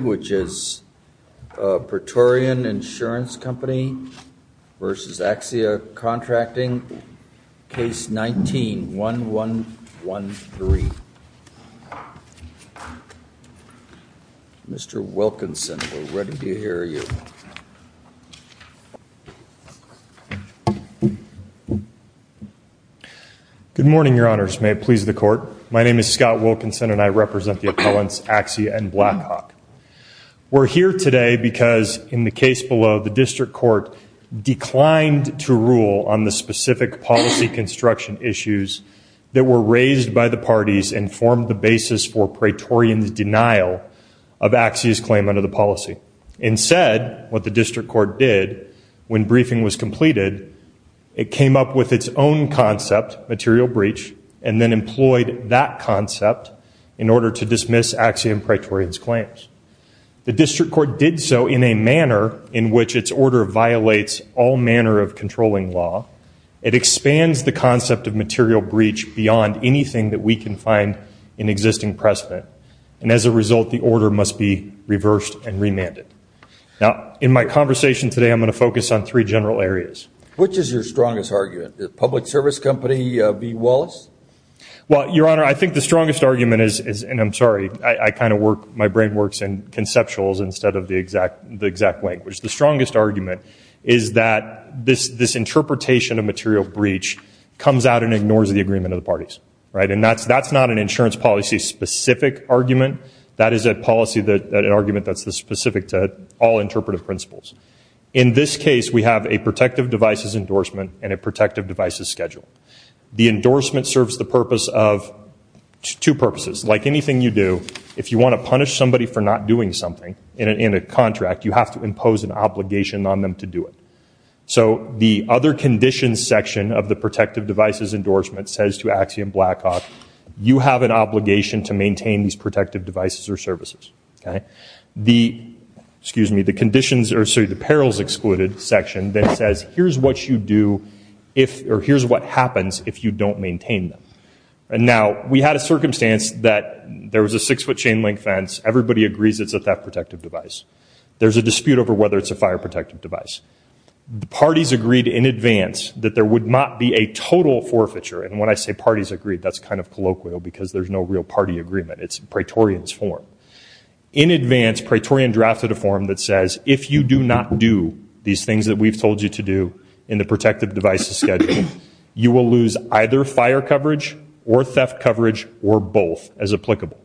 which is Praetorian Insurance Company v. Axia Contracting, case 19-1113. Mr. Wilkinson, we're ready to hear you. Good morning, your honors. May it please the court. My name is Scott Wilkinson and I represent the appellants Axia and Blackhawk. We're here today because in the case below the district court declined to rule on the specific policy construction issues that were raised by the parties and formed the basis for Praetorian's denial of Axia's claim under the policy. Instead, what the district court did when briefing was completed, it came up with its own concept, material breach, and then employed that concept in order to dismiss Axia and Praetorian's claims. The district court did so in a manner in which its order violates all manner of controlling law. It expands the concept of material breach beyond anything that we can find in existing precedent. And as a result, the order must be reversed and remanded. Now, in my conversation today, I'm going to focus on three general areas. Which is your strongest argument? The public service company, V. Wallace? Well, your honor, I think the strongest argument is, and I'm sorry, I kind of work, my brain works in conceptuals instead of the exact, the exact language. The strongest argument is that this, this interpretation of material breach comes out and ignores the agreement of the parties, right? And that's, that's not an insurance policy specific argument. That is a policy that, an argument that's specific to all interpretive principles. In this case, we have a protective devices endorsement and a protective devices schedule. The endorsement serves the purpose of two purposes. Like anything you do, if you want to punish somebody for not doing something in a contract, you have to impose an obligation on them to do it. So the other conditions section of the protective devices endorsement says to Axia and Blackhawk, you have an obligation to maintain these protective devices or services, okay? The, excuse me, the conditions, or sorry, the perils excluded section then says, here's what you do if, or here's what happens if you don't maintain them. And now, we had a circumstance that there was a six foot chain link fence. Everybody agrees it's a theft protective device. There's a dispute over whether it's a fire protective device. The parties agreed in advance that there would not be a total forfeiture. And when I say parties agreed, that's kind of colloquial because there's no real party agreement. It's Praetorian's form. In advance, Praetorian drafted a form that says, if you do not do these things that we've told you to do in the protective devices schedule, you will lose either fire coverage or theft coverage or both as applicable.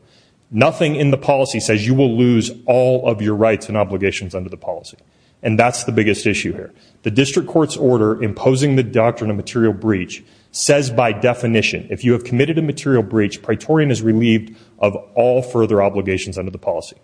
Nothing in the policy says you will lose all of your rights and obligations under the policy. And that's the biggest issue here. The district court's order imposing the doctrine of material breach says by definition, if you have of all further obligations under the policy.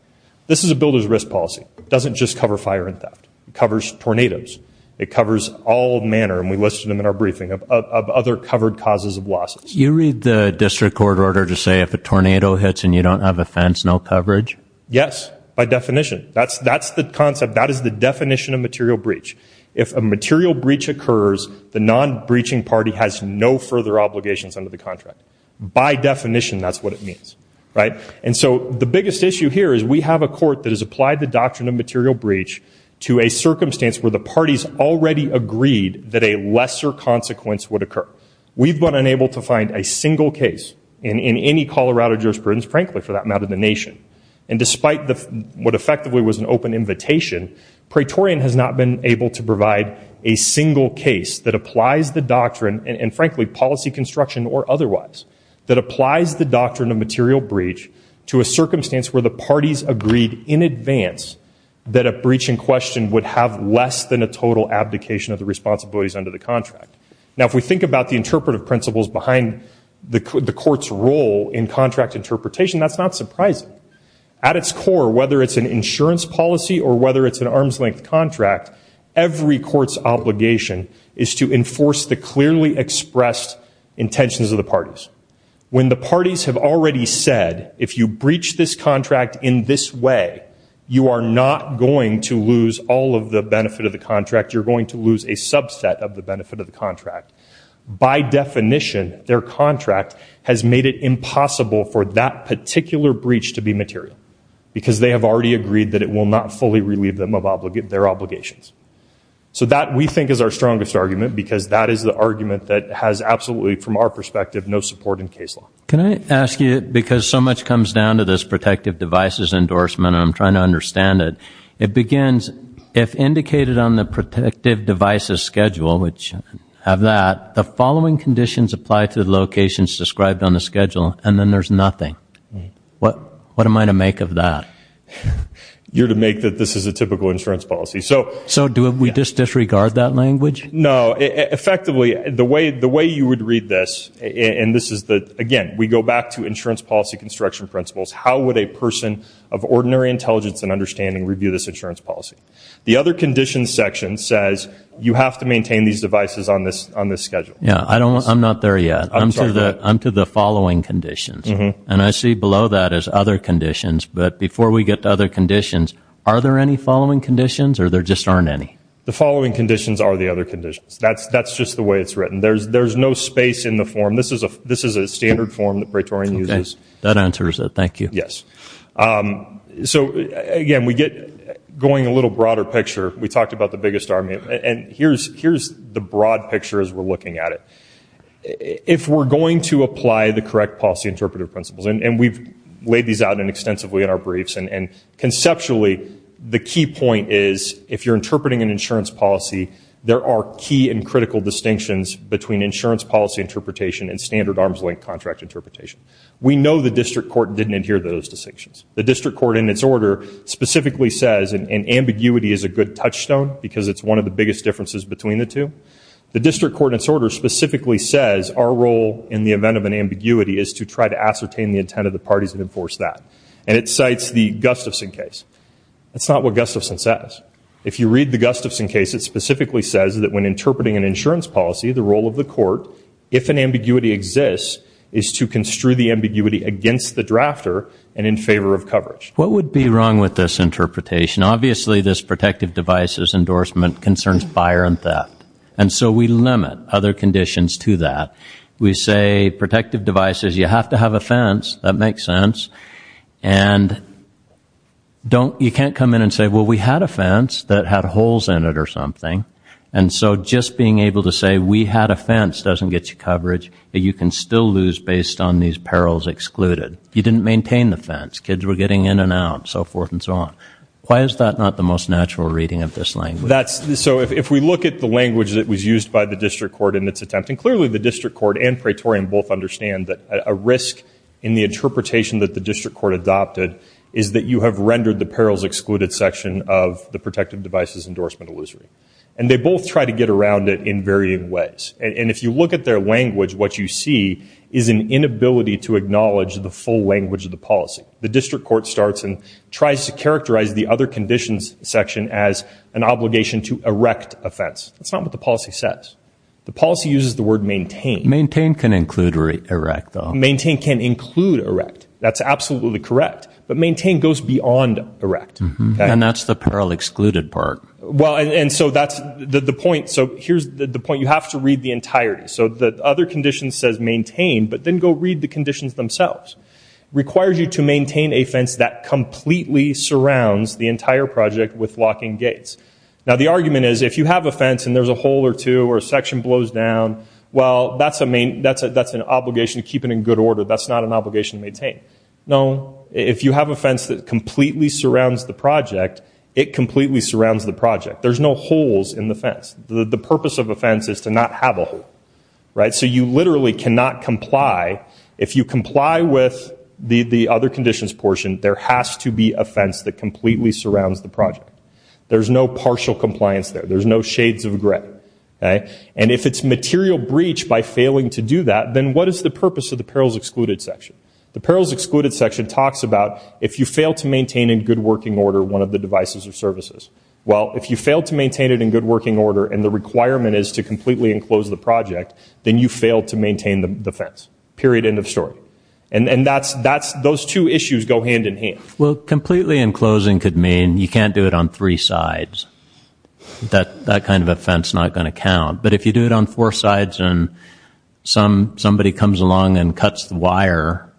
This is a builder's risk policy. It doesn't just cover fire and theft. It covers tornadoes. It covers all manner, and we listed them in our briefing, of other covered causes of losses. You read the district court order to say if a tornado hits and you don't have a fence, no coverage? Yes, by definition. That's the concept. That is the definition of material breach. If a material breach occurs, the non-breaching party has no further obligations under the contract. By definition, that's what it means, right? And so the biggest issue here is we have a court that has applied the doctrine of material breach to a circumstance where the parties already agreed that a lesser consequence would occur. We've been unable to find a single case in any Colorado jurisprudence, frankly, for that matter, the nation. And despite what effectively was an open invitation, Praetorian has not been able to and frankly, policy construction or otherwise, that applies the doctrine of material breach to a circumstance where the parties agreed in advance that a breach in question would have less than a total abdication of the responsibilities under the contract. Now, if we think about the interpretive principles behind the court's role in contract interpretation, that's not surprising. At its core, whether it's an insurance policy or whether it's an arm's length contract, every court's obligation is to enforce the clearly expressed intentions of the parties. When the parties have already said, if you breach this contract in this way, you are not going to lose all of the benefit of the contract. You're going to lose a subset of the benefit of the contract. By definition, their contract has made it impossible for that particular breach to be material, because they have already agreed that it will not fully relieve them of their obligations. So that, we think, is our strongest argument, because that is the argument that has absolutely, from our perspective, no support in case law. Can I ask you, because so much comes down to this protective devices endorsement, and I'm trying to understand it, it begins, if indicated on the protective devices schedule, which have that, the following conditions apply to the locations described on the schedule, and then there's nothing. What am I to make of that? You're to make that this is a typical insurance policy. So do we just disregard that language? No. Effectively, the way you would read this, and this is the, again, we go back to insurance policy construction principles. How would a person of ordinary intelligence and understanding review this insurance policy? The other conditions section says, you have to maintain these devices on this schedule. I'm not there yet. I'm to the following conditions, and I see below that as other conditions, but before we get to other conditions, are there any following conditions, or there just aren't any? The following conditions are the other conditions. That's just the way it's written. There's no space in the form. This is a standard form that Praetorian uses. That answers it. Thank you. Yes. So, again, we get, going a little broader picture, we talked about the biggest army, and here's the broad picture as we're looking at it. If we're going to apply the correct policy interpretive principles, and we've laid these out extensively in our briefs, and conceptually, the key point is, if you're interpreting an insurance policy, there are key and critical distinctions between insurance policy interpretation and standard arms link contract interpretation. We know the district court didn't adhere to those distinctions. The district court, in its order, specifically says, and ambiguity is a good biggest difference between the two. The district court, in its order, specifically says, our role in the event of an ambiguity is to try to ascertain the intent of the parties that enforce that, and it cites the Gustafson case. That's not what Gustafson says. If you read the Gustafson case, it specifically says that when interpreting an insurance policy, the role of the court, if an ambiguity exists, is to construe the ambiguity against the drafter and in favor of coverage. What would be wrong with this interpretation? Obviously, this protective devices endorsement concerns fire and theft, and so we limit other conditions to that. We say protective devices, you have to have a fence, that makes sense, and you can't come in and say, well, we had a fence that had holes in it or something, and so just being able to say we had a fence doesn't get you coverage, but you can still lose based on these perils excluded. You didn't maintain the fence. Kids were getting in and out, so forth and so on. Why is that not the most natural reading of this language? So if we look at the language that was used by the district court in its attempt, and clearly the district court and Praetorian both understand that a risk in the interpretation that the district court adopted is that you have rendered the perils excluded section of the protective devices endorsement illusory, and they both try to get around it in varying ways, and if you look at their language, what you see is an inability to acknowledge the full language of the policy. The district court starts and tries to characterize the other conditions section as an obligation to erect a fence. That's not what the policy says. The policy uses the word maintain. Maintain can include erect, though. Maintain can include erect. That's absolutely correct, but maintain goes beyond erect. And that's the peril excluded part. Well, and so that's the point. So here's the point. You have to read the entirety. So the other condition says maintain, but then go read the conditions themselves. Requires you to maintain a fence that completely surrounds the entire project with locking gates. Now, the argument is if you have a fence and there's a hole or two or a section blows down, well, that's an obligation to keep it in good order. That's not an obligation to maintain. No, if you have a fence that completely surrounds the project, it completely surrounds the project. There's no holes in the fence. The purpose of a fence is to not have a hole, right? So you literally cannot comply. If you comply with the other conditions portion, there has to be a fence that completely surrounds the project. There's no partial compliance there. There's no shades of gray. And if it's material breach by failing to do that, then what is the purpose of the perils excluded section? The perils excluded section talks about if you fail to maintain in good working order one of the devices or services. Well, if you fail to maintain it in good working order and the requirement is to completely enclose the project, then you fail to maintain the fence. Period. End of story. And those two issues go hand in hand. Well, completely enclosing could mean you can't do it on three sides. That kind of a fence is not going to count. But if you do it on four sides and somebody comes along and cuts the wire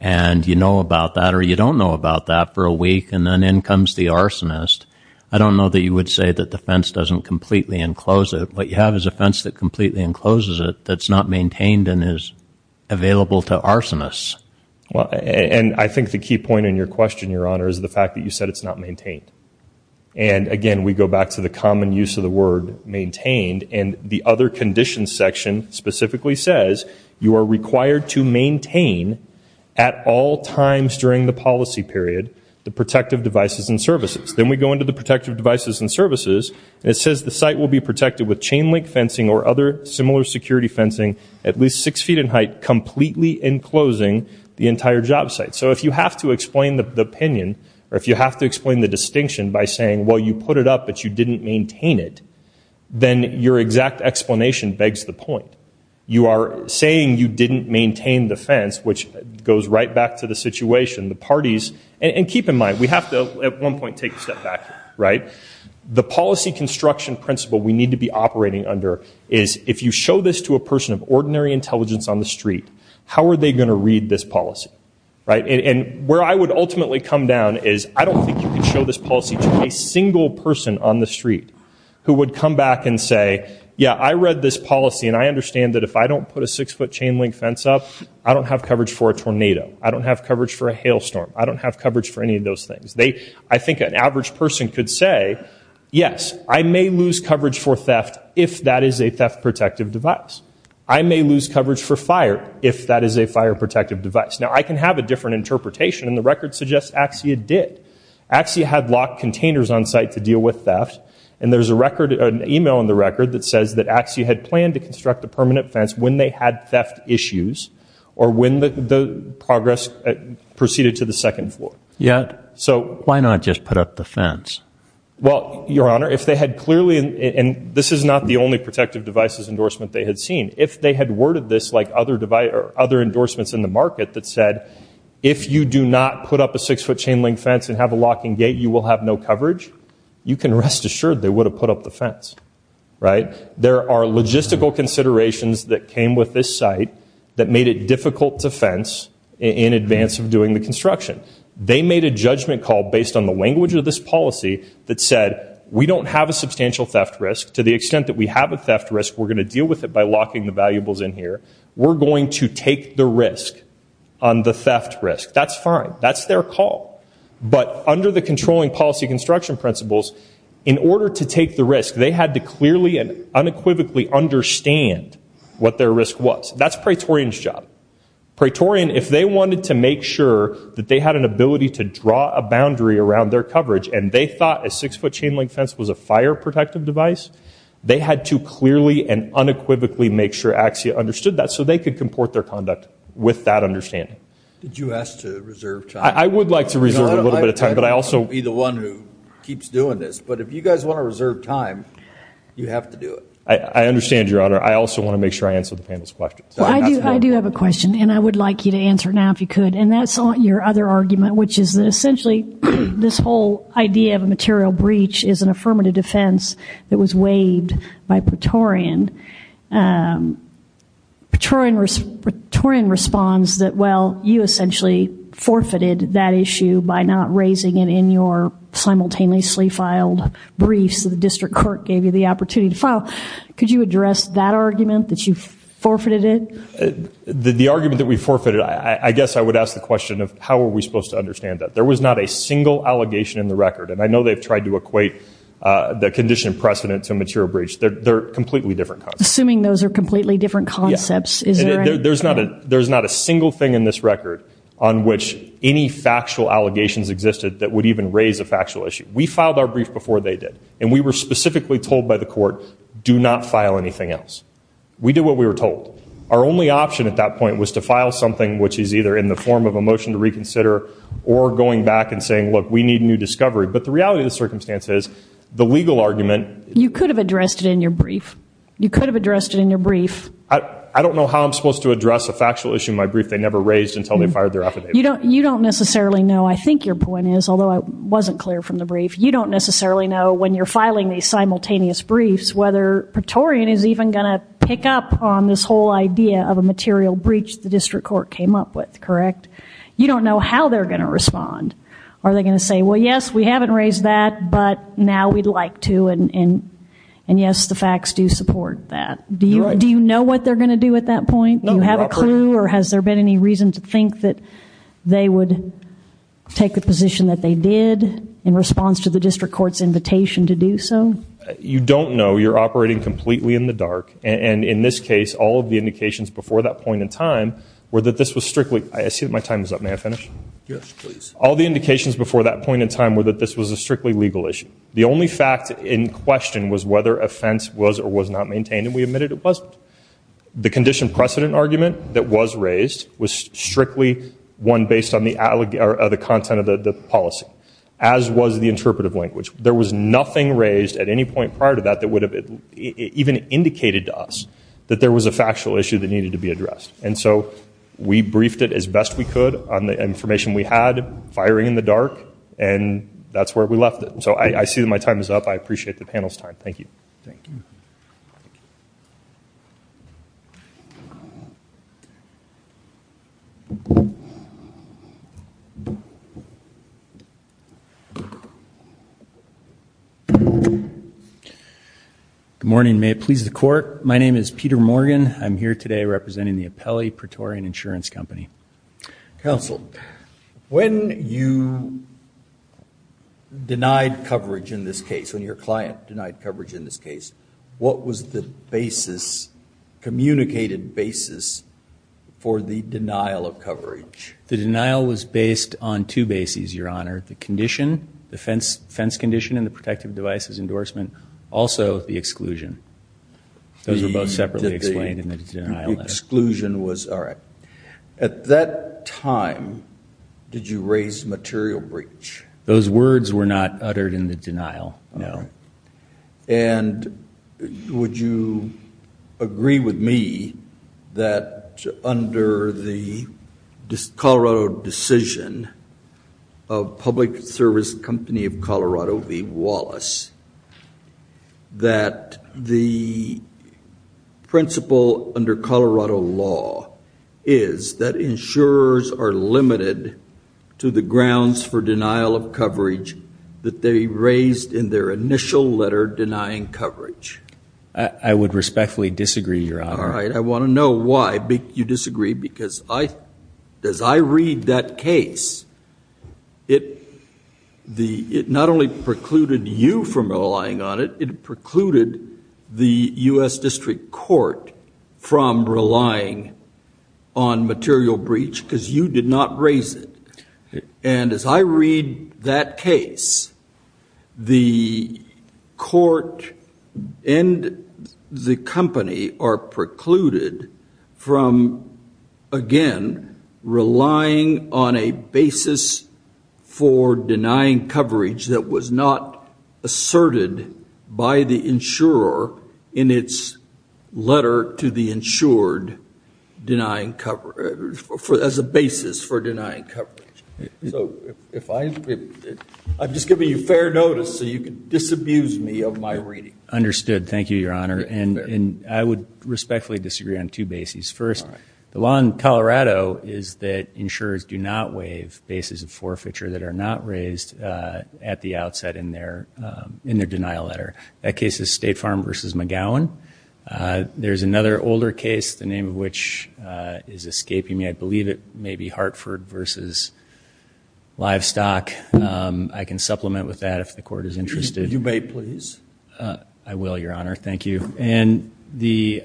and you know about that or you don't know about that for a week and then in comes the arsonist, I don't know that you would say that the fence doesn't completely enclose it. What you have is a fence that completely encloses it that's not maintained and is available to arsonists. Well, and I think the key point in your question, Your Honor, is the fact that you said it's not maintained. And again, we go back to the common use of the word maintained and the other conditions section specifically says you are required to maintain at all times during the policy period the protective devices and services. Then we go into the protective devices and services. It says the site will be protected with chain link fencing or other similar security fencing at least six feet in height completely enclosing the entire job site. So if you have to explain the opinion or if you have to explain the distinction by saying, well, you put it up, but you didn't maintain it, then your exact explanation begs the point. You are saying you didn't maintain the fence, which goes right back to the situation, the parties. And keep in mind, we have to at one point take a step back. The policy construction principle we need to be operating under is if you show this to a person of ordinary intelligence on the street, how are they going to read this policy? And where I would ultimately come down is I don't think you can show this policy to a single person on the street who would come back and say, yeah, I read this policy and I understand that if I don't put a six foot chain link fence up, I don't have coverage for I think an average person could say, yes, I may lose coverage for theft if that is a theft protective device. I may lose coverage for fire if that is a fire protective device. Now, I can have a different interpretation, and the record suggests AXIA did. AXIA had locked containers on site to deal with theft, and there's an email in the record that says that AXIA had planned to construct a permanent fence when they had theft issues or when the progress proceeded to the second floor. So why not just put up the fence? Well, Your Honor, if they had clearly, and this is not the only protective devices endorsement they had seen, if they had worded this like other endorsements in the market that said if you do not put up a six foot chain link fence and have a locking gate, you will have no coverage, you can rest assured they would have put up the fence, right? There are logistical considerations that came with this site that made it difficult to fence in advance of doing the construction. They made a judgment call based on the language of this policy that said we don't have a substantial theft risk. To the extent that we have a theft risk, we're going to deal with it by locking the valuables in here. We're going to take the risk on the theft risk. That's fine. That's their call. But under the controlling policy construction principles, in order to take the risk, they had to clearly and unequivocally understand what their risk was. That's Praetorian's job. Praetorian, if they wanted to make sure that they had an ability to draw a boundary around their coverage and they thought a six foot chain link fence was a fire protective device, they had to clearly and unequivocally make sure AXIA understood that so they could comport their conduct with that understanding. Did you ask to reserve time? I would like to reserve a little bit of time, but I also... I'm going to be the one who I also want to make sure I answer the panel's questions. I do have a question and I would like you to answer now if you could. And that's on your other argument, which is essentially this whole idea of a material breach is an affirmative defense that was waived by Praetorian. Praetorian responds that, well, you essentially forfeited that issue by not raising it in your simultaneously filed briefs. The district court gave you the opportunity to file. Could you address that argument that you forfeited it? The argument that we forfeited, I guess I would ask the question of how are we supposed to understand that? There was not a single allegation in the record. And I know they've tried to equate the condition precedent to a material breach. They're completely different concepts. Assuming those are completely different concepts. Yeah. There's not a single thing in this record on which any factual allegations existed that would even raise a factual issue. We filed our brief before they did. And we were specifically told by the court, do not file anything else. We did what we were told. Our only option at that point was to file something which is either in the form of a motion to reconsider or going back and saying, look, we need new discovery. But the reality of the circumstance is the legal argument. You could have addressed it in your brief. You could have addressed it in your brief. I don't know how I'm supposed to address a factual issue in my brief. They never raised until they fired their affidavit. You don't necessarily know. I think your point is, although I wasn't clear from the brief, you don't necessarily know when you're filing these simultaneous briefs whether Praetorian is even going to pick up on this whole idea of a material breach the district court came up with, correct? You don't know how they're going to respond. Are they going to say, well, yes, we haven't raised that, but now we'd like to. And yes, the facts do support that. Do you know what they're going to do at that point? Do you have a clue or has there been any reason to think that they would take the position that they did in response to the district court's invitation to do so? You don't know. You're operating completely in the dark. And in this case, all of the indications before that point in time were that this was strictly, I see that my time is up. May I finish? Yes, please. All the indications before that point in time were that this was a strictly legal issue. The only fact in question was whether offense was or was not maintained. And we admitted it wasn't. The condition precedent argument that was raised was strictly one based on the content of the policy, as was the interpretive language. There was nothing raised at any point prior to that that would have even indicated to us that there was a factual issue that needed to be addressed. And so we briefed it as best we could on the information we had, firing in the dark, and that's where we left it. So I see that my time is up. I appreciate the panel's time. Thank you. Thank you. Good morning. May it please the court. My name is Peter Morgan. I'm here today representing the Apelli Praetorian Insurance Company. Counsel, when you denied coverage in this case, when your client denied coverage in this case, what was the basis, communicated basis, for the denial of coverage? The denial was based on two bases, Your Honor. The condition, the fence condition and the protective devices endorsement, also the exclusion. Those were both separately explained in the denial. The exclusion was, all right. At that time, did you raise material breach? Those words were not uttered in the denial. No. And would you agree with me that under the Colorado decision of Public Service Company of Colorado v. Wallace, that the principle under Colorado law is that insurers are limited to the grounds for denial of coverage that they raised in their initial letter denying coverage? I would respectfully disagree, Your Honor. All right. I want to know why you disagree, because I, as I read that case, it, the, it not only precluded you from relying on it, it precluded the U.S. District Court from relying on material breach, because you did not raise it. And as I read that case, the court and the company are precluded from, again, relying on a basis for denying coverage that was not asserted by the insurer in its letter to the insured denying cover, as a basis for denying coverage. So if I, I'm just giving you fair notice so you could disabuse me of my reading. Understood. Thank you, Your Honor. And I would respectfully disagree on two bases. First, the law in Colorado is that insurers do not waive bases of forfeiture that are not raised at the outset in their, in their denial letter. That case is State Farm v. McGowan. There's another older case, the name of which is escaping me. I believe it may be Hartford v. Livestock. I can supplement with that if the court is interested. You may, please. I will, Your Honor. Thank you. And the,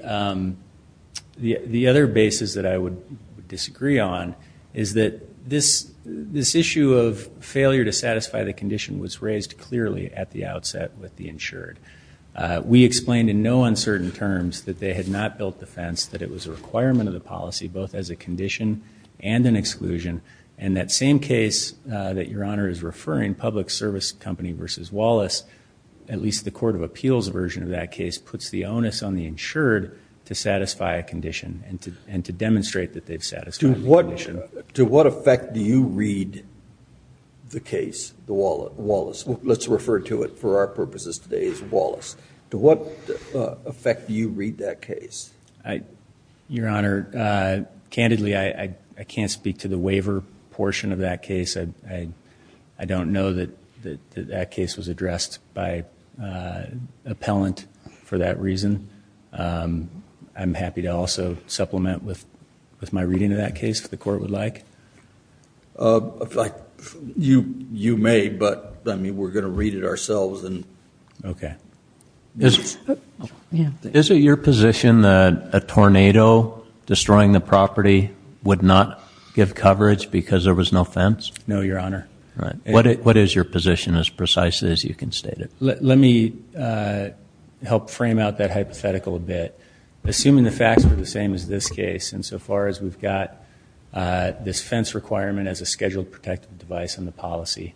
the other basis that I would disagree on is that this, this issue of failure to satisfy the condition was raised clearly at the outset with the insured. We explained in no uncertain terms that they had not built the fence, that it was a requirement of the policy, both as a condition and an exclusion. And that same case that Your Honor is referring, Public Service Company v. Wallace, at least the Court of Appeals version of that case, puts the onus on the insured to satisfy a condition and to, and to demonstrate that they've satisfied the condition. To what, to what effect do you read the case, the Wallace? Let's refer to it for our purposes today as Wallace. To what effect do you read that case? I, Your Honor, candidly, I can't speak to the waiver portion of that case. I don't know that that case was addressed by appellant for that reason. I'm happy to also supplement with my reading of that case if the court would like. You, you may, but I mean, we're going to read it ourselves and. Okay. Is it your position that a tornado destroying the property would not give coverage because there was no fence? No, Your Honor. Right. What, what is your position as precisely as you can state it? Let me help frame out that hypothetical a bit. Assuming the facts are the same as this case, and so far as we've got this fence requirement as a scheduled protective device on the policy,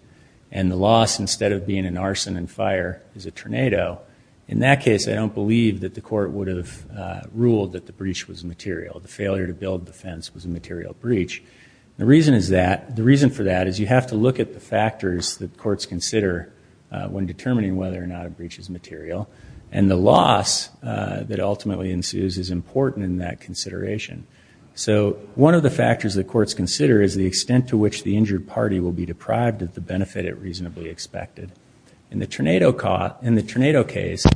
and the loss, instead of being an arson and fire, is a tornado. In that case, I don't believe that the court would have ruled that the breach was material. The failure to build the fence was a material breach. The reason is that, the reason for that is you have to look at the factors that courts consider when determining whether or not a breach is material, and the loss that ultimately ensues is important in that consideration. So, one of the factors that courts consider is the extent to which the injured party will be deprived of the benefit it reasonably expected. In the tornado case,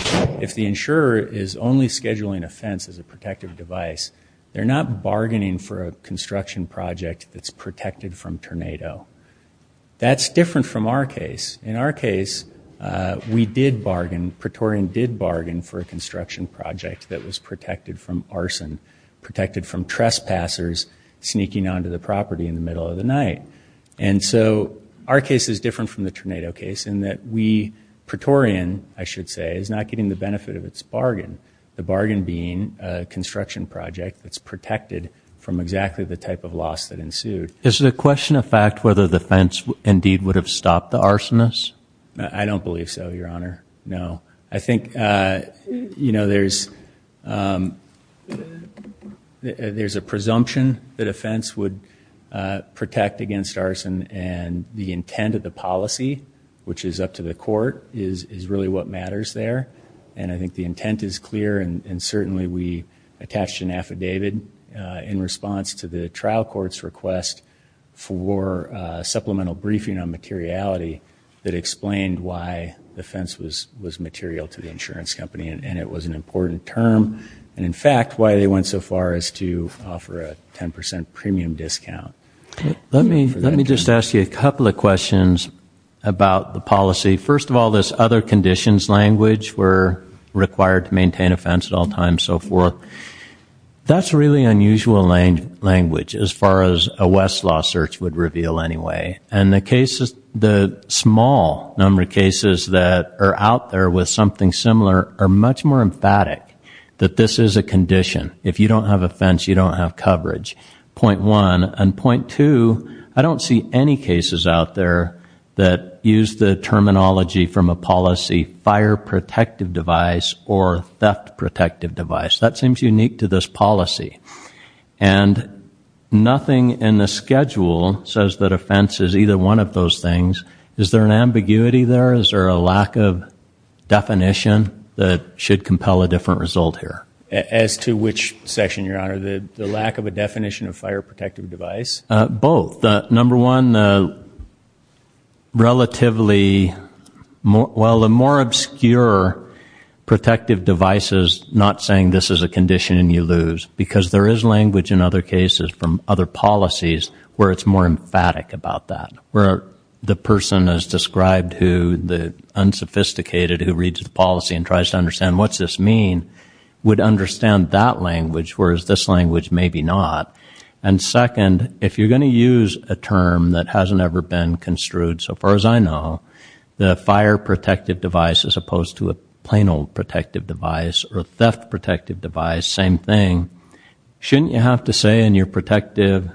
if the insurer is only scheduling a fence as a protective device, they're not bargaining for a construction project that's protected from tornado. That's different from our case. In our case, we did bargain, Praetorian did bargain for a construction project that was protected from arson, protected from trespassers sneaking onto the property in the middle of the night. And so, our case is different from the tornado case, in that we, Praetorian, I should say, is not getting the benefit of its bargain. The bargain being a construction project that's protected from exactly the type of loss that ensued. Is the question of fact whether the fence indeed would have stopped the arsonist? I don't believe so, your honor. No. I think, you know, there's a presumption that a fence would protect against arson, and the intent of the policy, which is up to the court, is really what matters there. And I think the intent is clear, and certainly we attached an affidavit in response to the trial court's request for a supplemental briefing on materiality that explained why the fence was material to the insurance company, and it was an important term, and in fact, why they went so far as to offer a 10% premium discount. Let me just ask you a couple of questions about the policy. First of all, this other conditions language, we're required to maintain a fence at all times, so forth. That's really unusual language as far as a Westlaw search would reveal anyway, and the cases, the small number of cases that are out there with something similar are much more emphatic, that this is a condition. If you don't have a fence, you don't have coverage, point one. And point two, I don't see any cases out there that use the terminology from a policy fire protective device or theft protective device. That seems unique to this policy. And nothing in the schedule says that a fence is either one of those things. Is there an ambiguity there? Is there a lack of definition that should compel a different result here? As to which section, your honor, the lack of a definition of fire protective device? Both. Number one, relatively, well, the more obscure protective device is not saying this is a condition and you lose, because there is language in other cases from other policies where it's more emphatic about that, where the person is described who the unsophisticated who reads the policy and tries to understand what's this mean would understand that language, whereas this language maybe not. And second, if you're going to use a term that hasn't ever been construed, so far as I know, the fire protective device as opposed to a plain old protective device or theft protective device, same thing, shouldn't you have to say in your protective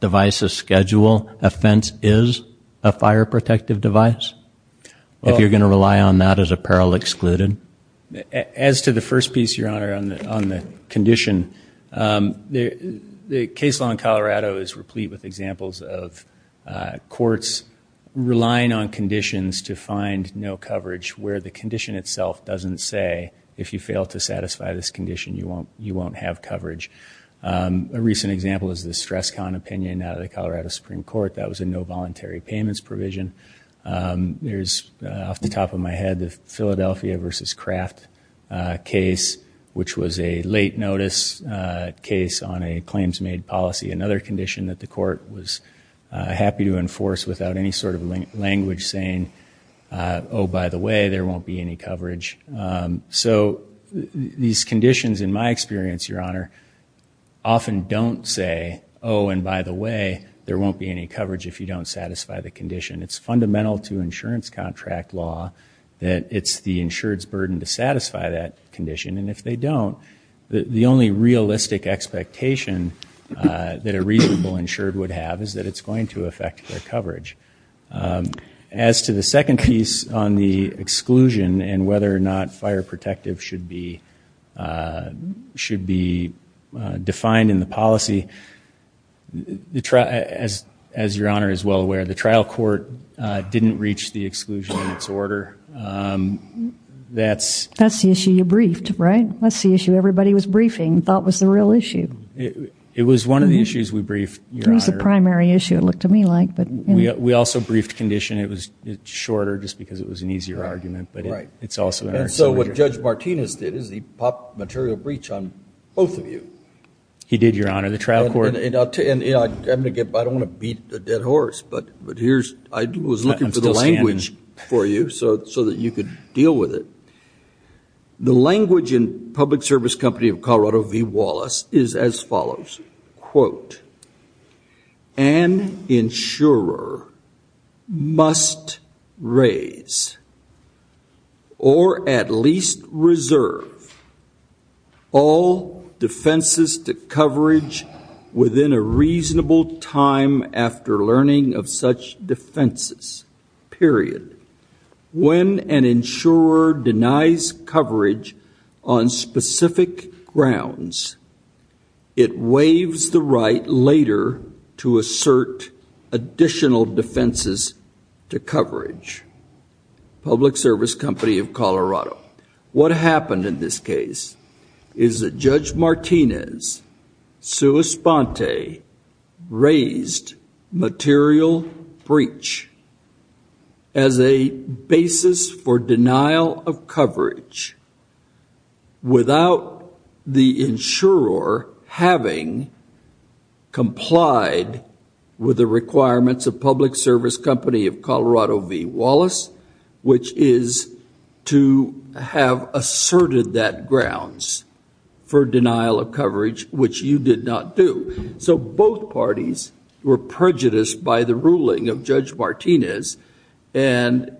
devices schedule a fence is a fire protective device? If you're going to rely on that as apparel excluded? As to the first piece, your honor, on the condition, the case law in Colorado is replete with examples of courts relying on conditions to find no coverage where the condition itself doesn't say if you fail to satisfy this condition, you won't have coverage. A recent example is the stress con opinion out of the Colorado Supreme Court that was a no voluntary payments provision. There's off the top of my head, the Philadelphia versus craft case, which was a late notice case on a claims made policy. Another condition that the court was happy to enforce without any sort of language saying, oh, by the way, there won't be any coverage. So these conditions in my experience, your honor, often don't say, oh, and by the way, there won't be any coverage if you don't satisfy the condition. It's fundamental to insurance contract law that it's the insured's burden to satisfy that condition. And if they don't, the only realistic expectation that a reasonable insured would have is that it's going to affect their coverage. As to the second piece on the exclusion and whether or not fire protective should be should be defined in the policy, as your honor is well aware, the trial court didn't reach the exclusion in its order. That's the issue you briefed, right? That's the issue everybody was briefing, thought was the real issue. It was one of the issues we briefed. It was the primary issue, it looked to me like. But we also briefed condition. It was shorter just because it was an easier argument, but it's also what Judge Martinez did is he popped material breach on both of you. He did, your honor, the trial court. I don't want to beat a dead horse, but here's I was looking for the language for you so that you could deal with it. The language in Public Service Company of Colorado V. Wallace is as follows, quote, an insurer must raise or at least reserve all defenses to coverage within a reasonable time after learning of such defenses, period. When an insurer denies coverage on specific grounds, it waives the right later to assert additional defenses to coverage. Public Service Company of Colorado. What happened in this case is that Judge Martinez sua sponte raised material breach as a basis for denial of coverage without the insurer having complied with the requirements of Public Service Company of Colorado V. Wallace, which is to have asserted that grounds for denial of coverage, which you did not do. So both parties were prejudiced by the ruling of Judge Martinez. And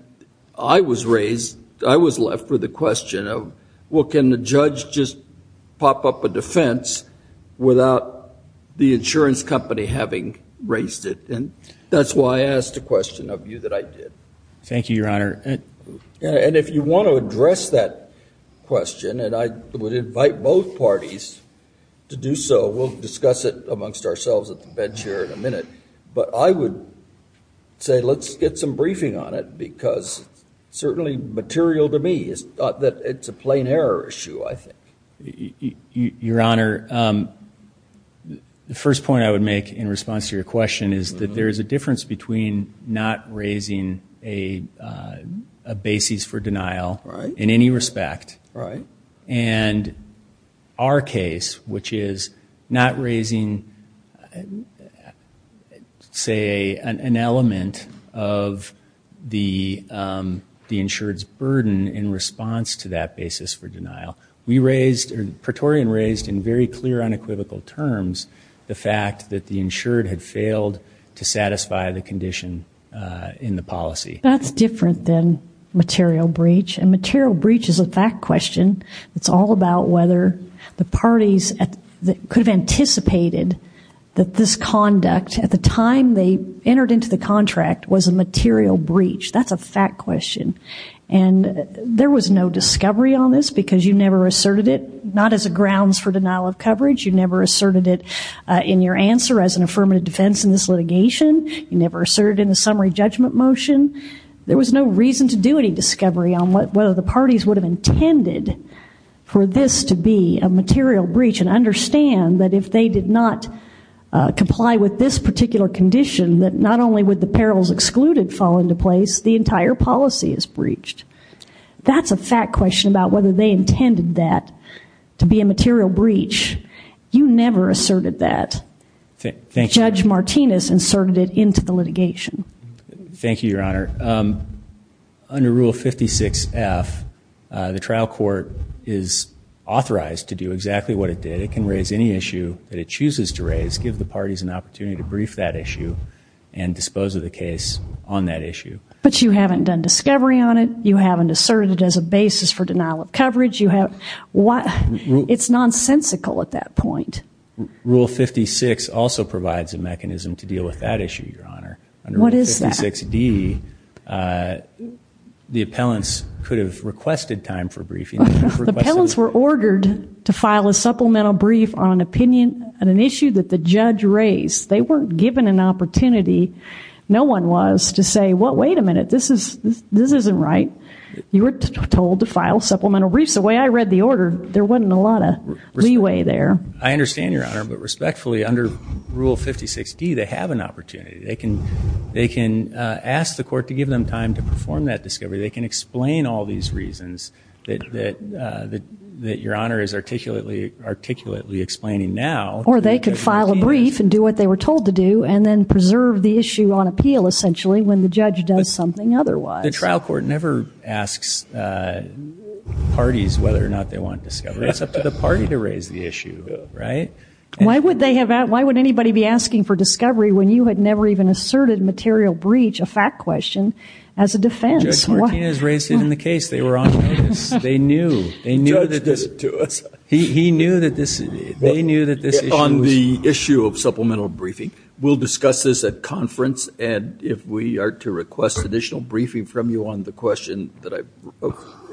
I was raised, I was left with the question of, well, can the judge just pop up a defense without the insurance company having raised it? And that's why I asked a question of you that I did. Thank you, your honor. And if you want to address that question, and I would invite both parties to do so, we'll discuss it amongst ourselves at the bench here in a minute. But I would say let's get some briefing on it because certainly material to me is that it's a plain error issue, I think. Your honor, the first point I would make in response to your question is that there is a difference between not raising a basis for denial in any respect and our case, which is not raising, say, an element of the insured's burden in response to that basis for denial. Praetorian raised in very clear unequivocal terms the fact that the insured had failed to satisfy the condition in the policy. That's different than material breach, and material breach is a fact question. It's all about whether the parties could have anticipated that this conduct at the time they entered into the contract was a material breach. That's a fact question. And there was no discovery on this because you never asserted it, not as a grounds for denial of coverage. You never asserted it in your answer as an affirmative defense in this litigation. You never asserted in the summary judgment motion. There was no reason to do any of that. Whether the parties would have intended for this to be a material breach and understand that if they did not comply with this particular condition, that not only would the perils excluded fall into place, the entire policy is breached. That's a fact question about whether they intended that to be a material breach. You never asserted that. Judge Martinez inserted it into the litigation. Thank you, Your Honor. Under Rule 56F, the trial court is authorized to do exactly what it did. It can raise any issue that it chooses to raise, give the parties an opportunity to brief that issue and dispose of the case on that issue. But you haven't done discovery on it. You haven't asserted it as a basis for denial of coverage. It's nonsensical at that point. Rule 56 also provides a mechanism to deal with that issue, Your Honor. Under Rule 56D, the appellants could have requested time for briefing. The appellants were ordered to file a supplemental brief on an issue that the judge raised. They weren't given an opportunity. No one was to say, wait a minute, this isn't right. You were told to file supplemental briefs. I read the order. There wasn't a lot of leeway there. I understand, Your Honor. But respectfully, under Rule 56D, they have an opportunity. They can ask the court to give them time to perform that discovery. They can explain all these reasons that Your Honor is articulately explaining now. Or they could file a brief and do what they were told to do and then preserve the issue on appeal, essentially, when the judge does something otherwise. The trial court never asks the parties whether or not they want discovery. It's up to the party to raise the issue, right? Why would anybody be asking for discovery when you had never even asserted material breach, a fact question, as a defense? Judge Martinez raised it in the case. They were on notice. They knew. They knew that this issue was... On the issue of supplemental briefing, we'll discuss this at conference. And if we are to request additional briefing from you on the question that I've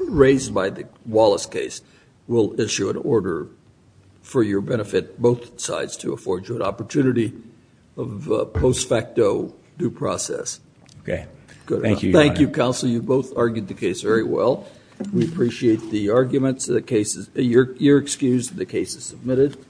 raised by the Wallace case, we'll issue an order for your benefit, both sides, to afford you an opportunity of post facto due process. Okay. Thank you, Your Honor. Thank you, counsel. You both argued the case very well. We appreciate the arguments. You're excused. The case is submitted.